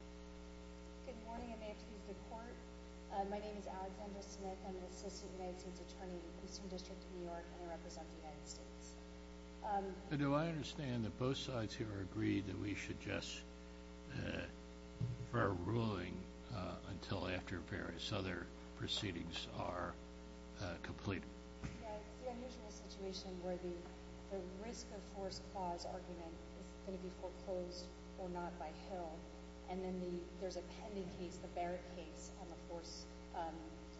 Good morning. I may have to use the court. My name is Alexandra Smith. I'm an assistant United States Attorney in the Houston District of New York, and I represent the United States. Do I understand that both sides here agree that we should just defer ruling until after various other proceedings are completed? It's the unusual situation where the risk of force clause argument is going to be foreclosed or not by Hill, and then there's a pending case, the Barrett case, on the force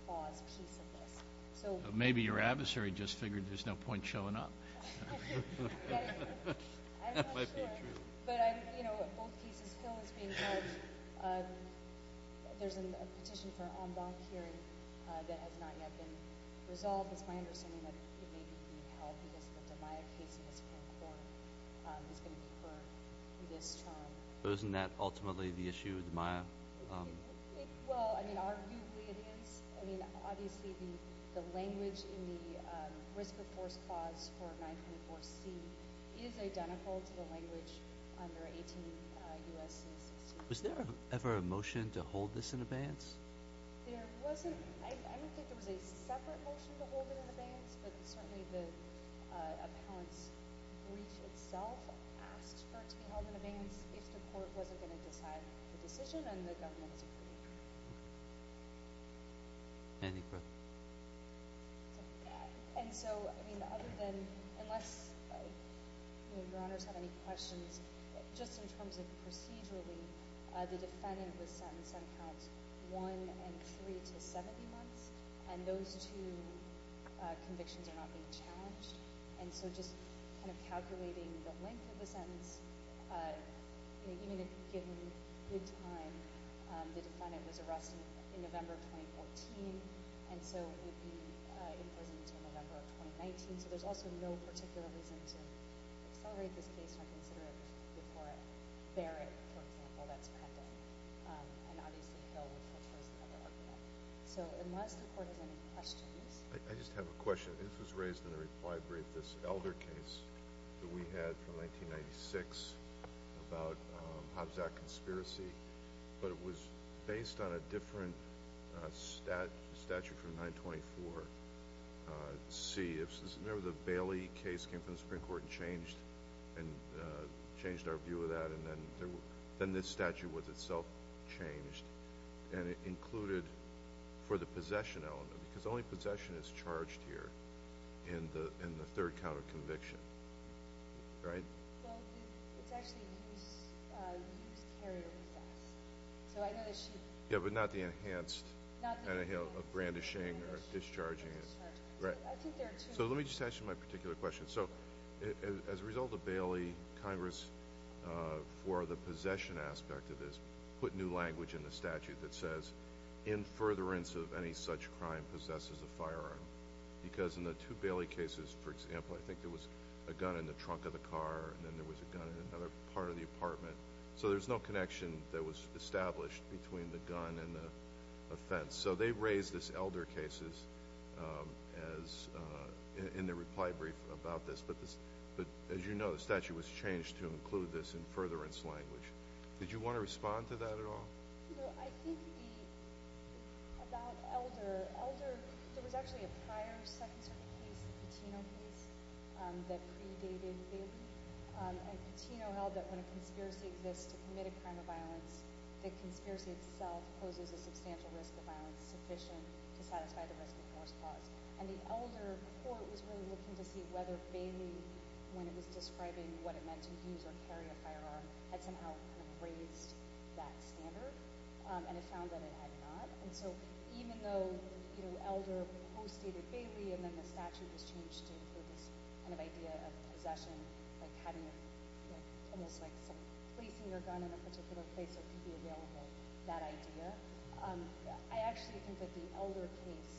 clause piece of this. Maybe your adversary just figured there's no point showing up. I'm not sure. But, you know, both cases, Hill is being held. There's a petition for an en banc hearing that has not yet been resolved. It's my understanding that it may be being held because the DiMaio case in the Supreme Court is going to be for this term. Isn't that ultimately the issue with DiMaio? Well, I mean, arguably it is. I mean, obviously the language in the risk of force clause for 924C is identical to the language under 18 U.S.C. 16. Was there ever a motion to hold this in abeyance? There wasn't. I don't think there was a separate motion to hold it in abeyance, but certainly the appellant's brief itself asked for it to be held in abeyance if the court wasn't going to decide the decision and the government was agreeing to it. Any questions? And so, I mean, other than – unless, you know, Your Honors have any questions. Just in terms of procedurally, the defendant was sentenced on count one and three to 70 months, and those two convictions are not being challenged. And so just kind of calculating the length of the sentence, you know, even if given good time, the defendant was arrested in November of 2014, and so would be in prison until November of 2019. So there's also no particular reason to accelerate this case or consider it before a barrack, for example, that's pending. And obviously, Hill, which was raised in the other argument. So unless the court has any questions. I just have a question. This was raised in a reply brief, this Elder case that we had from 1996 about Hobbs Act conspiracy, but it was based on a different statute from 924C. Remember the Bailey case came from the Supreme Court and changed our view of that, and then this statute was itself changed, and it included for the possession element, because only possession is charged here in the third count of conviction. Right? Well, it's actually used carrier defense. So I know that she – Yeah, but not the enhanced. Not the enhanced. Brandishing or discharging it. Right. So let me just ask you my particular question. So as a result of Bailey, Congress, for the possession aspect of this, put new language in the statute that says, In furtherance of any such crime possesses a firearm. Because in the two Bailey cases, for example, I think there was a gun in the trunk of the car, and then there was a gun in another part of the apartment. So there's no connection that was established between the gun and the offense. So they raised this Elder cases as – in their reply brief about this. But as you know, the statute was changed to include this in furtherance language. Did you want to respond to that at all? No. I think the – about Elder, Elder – there was actually a prior Second Circuit case, the Patino case, that predated Bailey. And Patino held that when a conspiracy exists to commit a crime of violence, the conspiracy itself poses a substantial risk of violence sufficient to satisfy the risk of forced cause. And the Elder court was really looking to see whether Bailey, when it was describing what it meant to use or carry a firearm, had somehow kind of raised that standard. And it found that it had not. And so even though, you know, Elder postdated Bailey and then the statute was changed to include this kind of idea of possession, like having almost like some place in your gun in a particular place that could be available, that idea, I actually think that the Elder case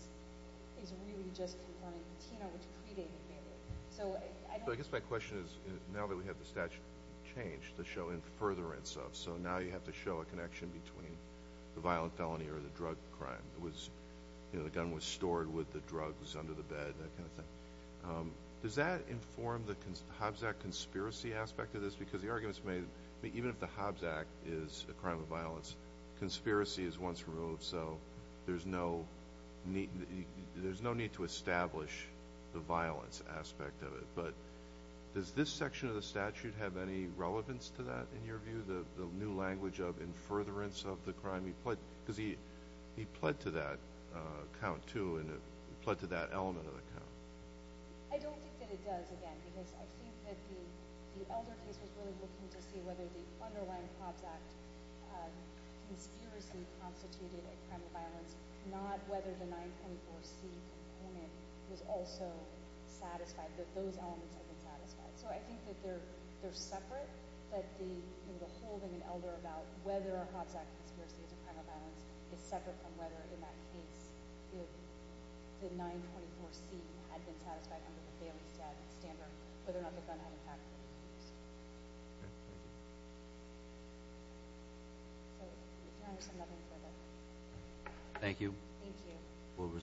is really just confirming Patino, which predated Bailey. So I don't – So I guess my question is, now that we have the statute changed to show in furtherance of, so now you have to show a connection between the violent felony or the drug crime. It was, you know, the gun was stored with the drugs under the bed, that kind of thing. Does that inform the Hobbs Act conspiracy aspect of this? Because the arguments made – even if the Hobbs Act is a crime of violence, conspiracy is once removed, so there's no need to establish the violence aspect of it. But does this section of the statute have any relevance to that, in your view, the new language of in furtherance of the crime? Because he pled to that count, too, and he pled to that element of the count. I don't think that it does, again, because I think that the Elder case was really looking to see whether the underlying Hobbs Act conspiracy constituted a crime of violence, not whether the 924C in it was also satisfied that those elements had been satisfied. So I think that they're separate, but the whole thing in Elder about whether a Hobbs Act conspiracy is a crime of violence is separate from whether, in that case, the 924C had been satisfied under the family statute standard, whether or not the gun had, in fact, been used. Okay, thank you. So, Your Honor, I have nothing further. Thank you. Thank you.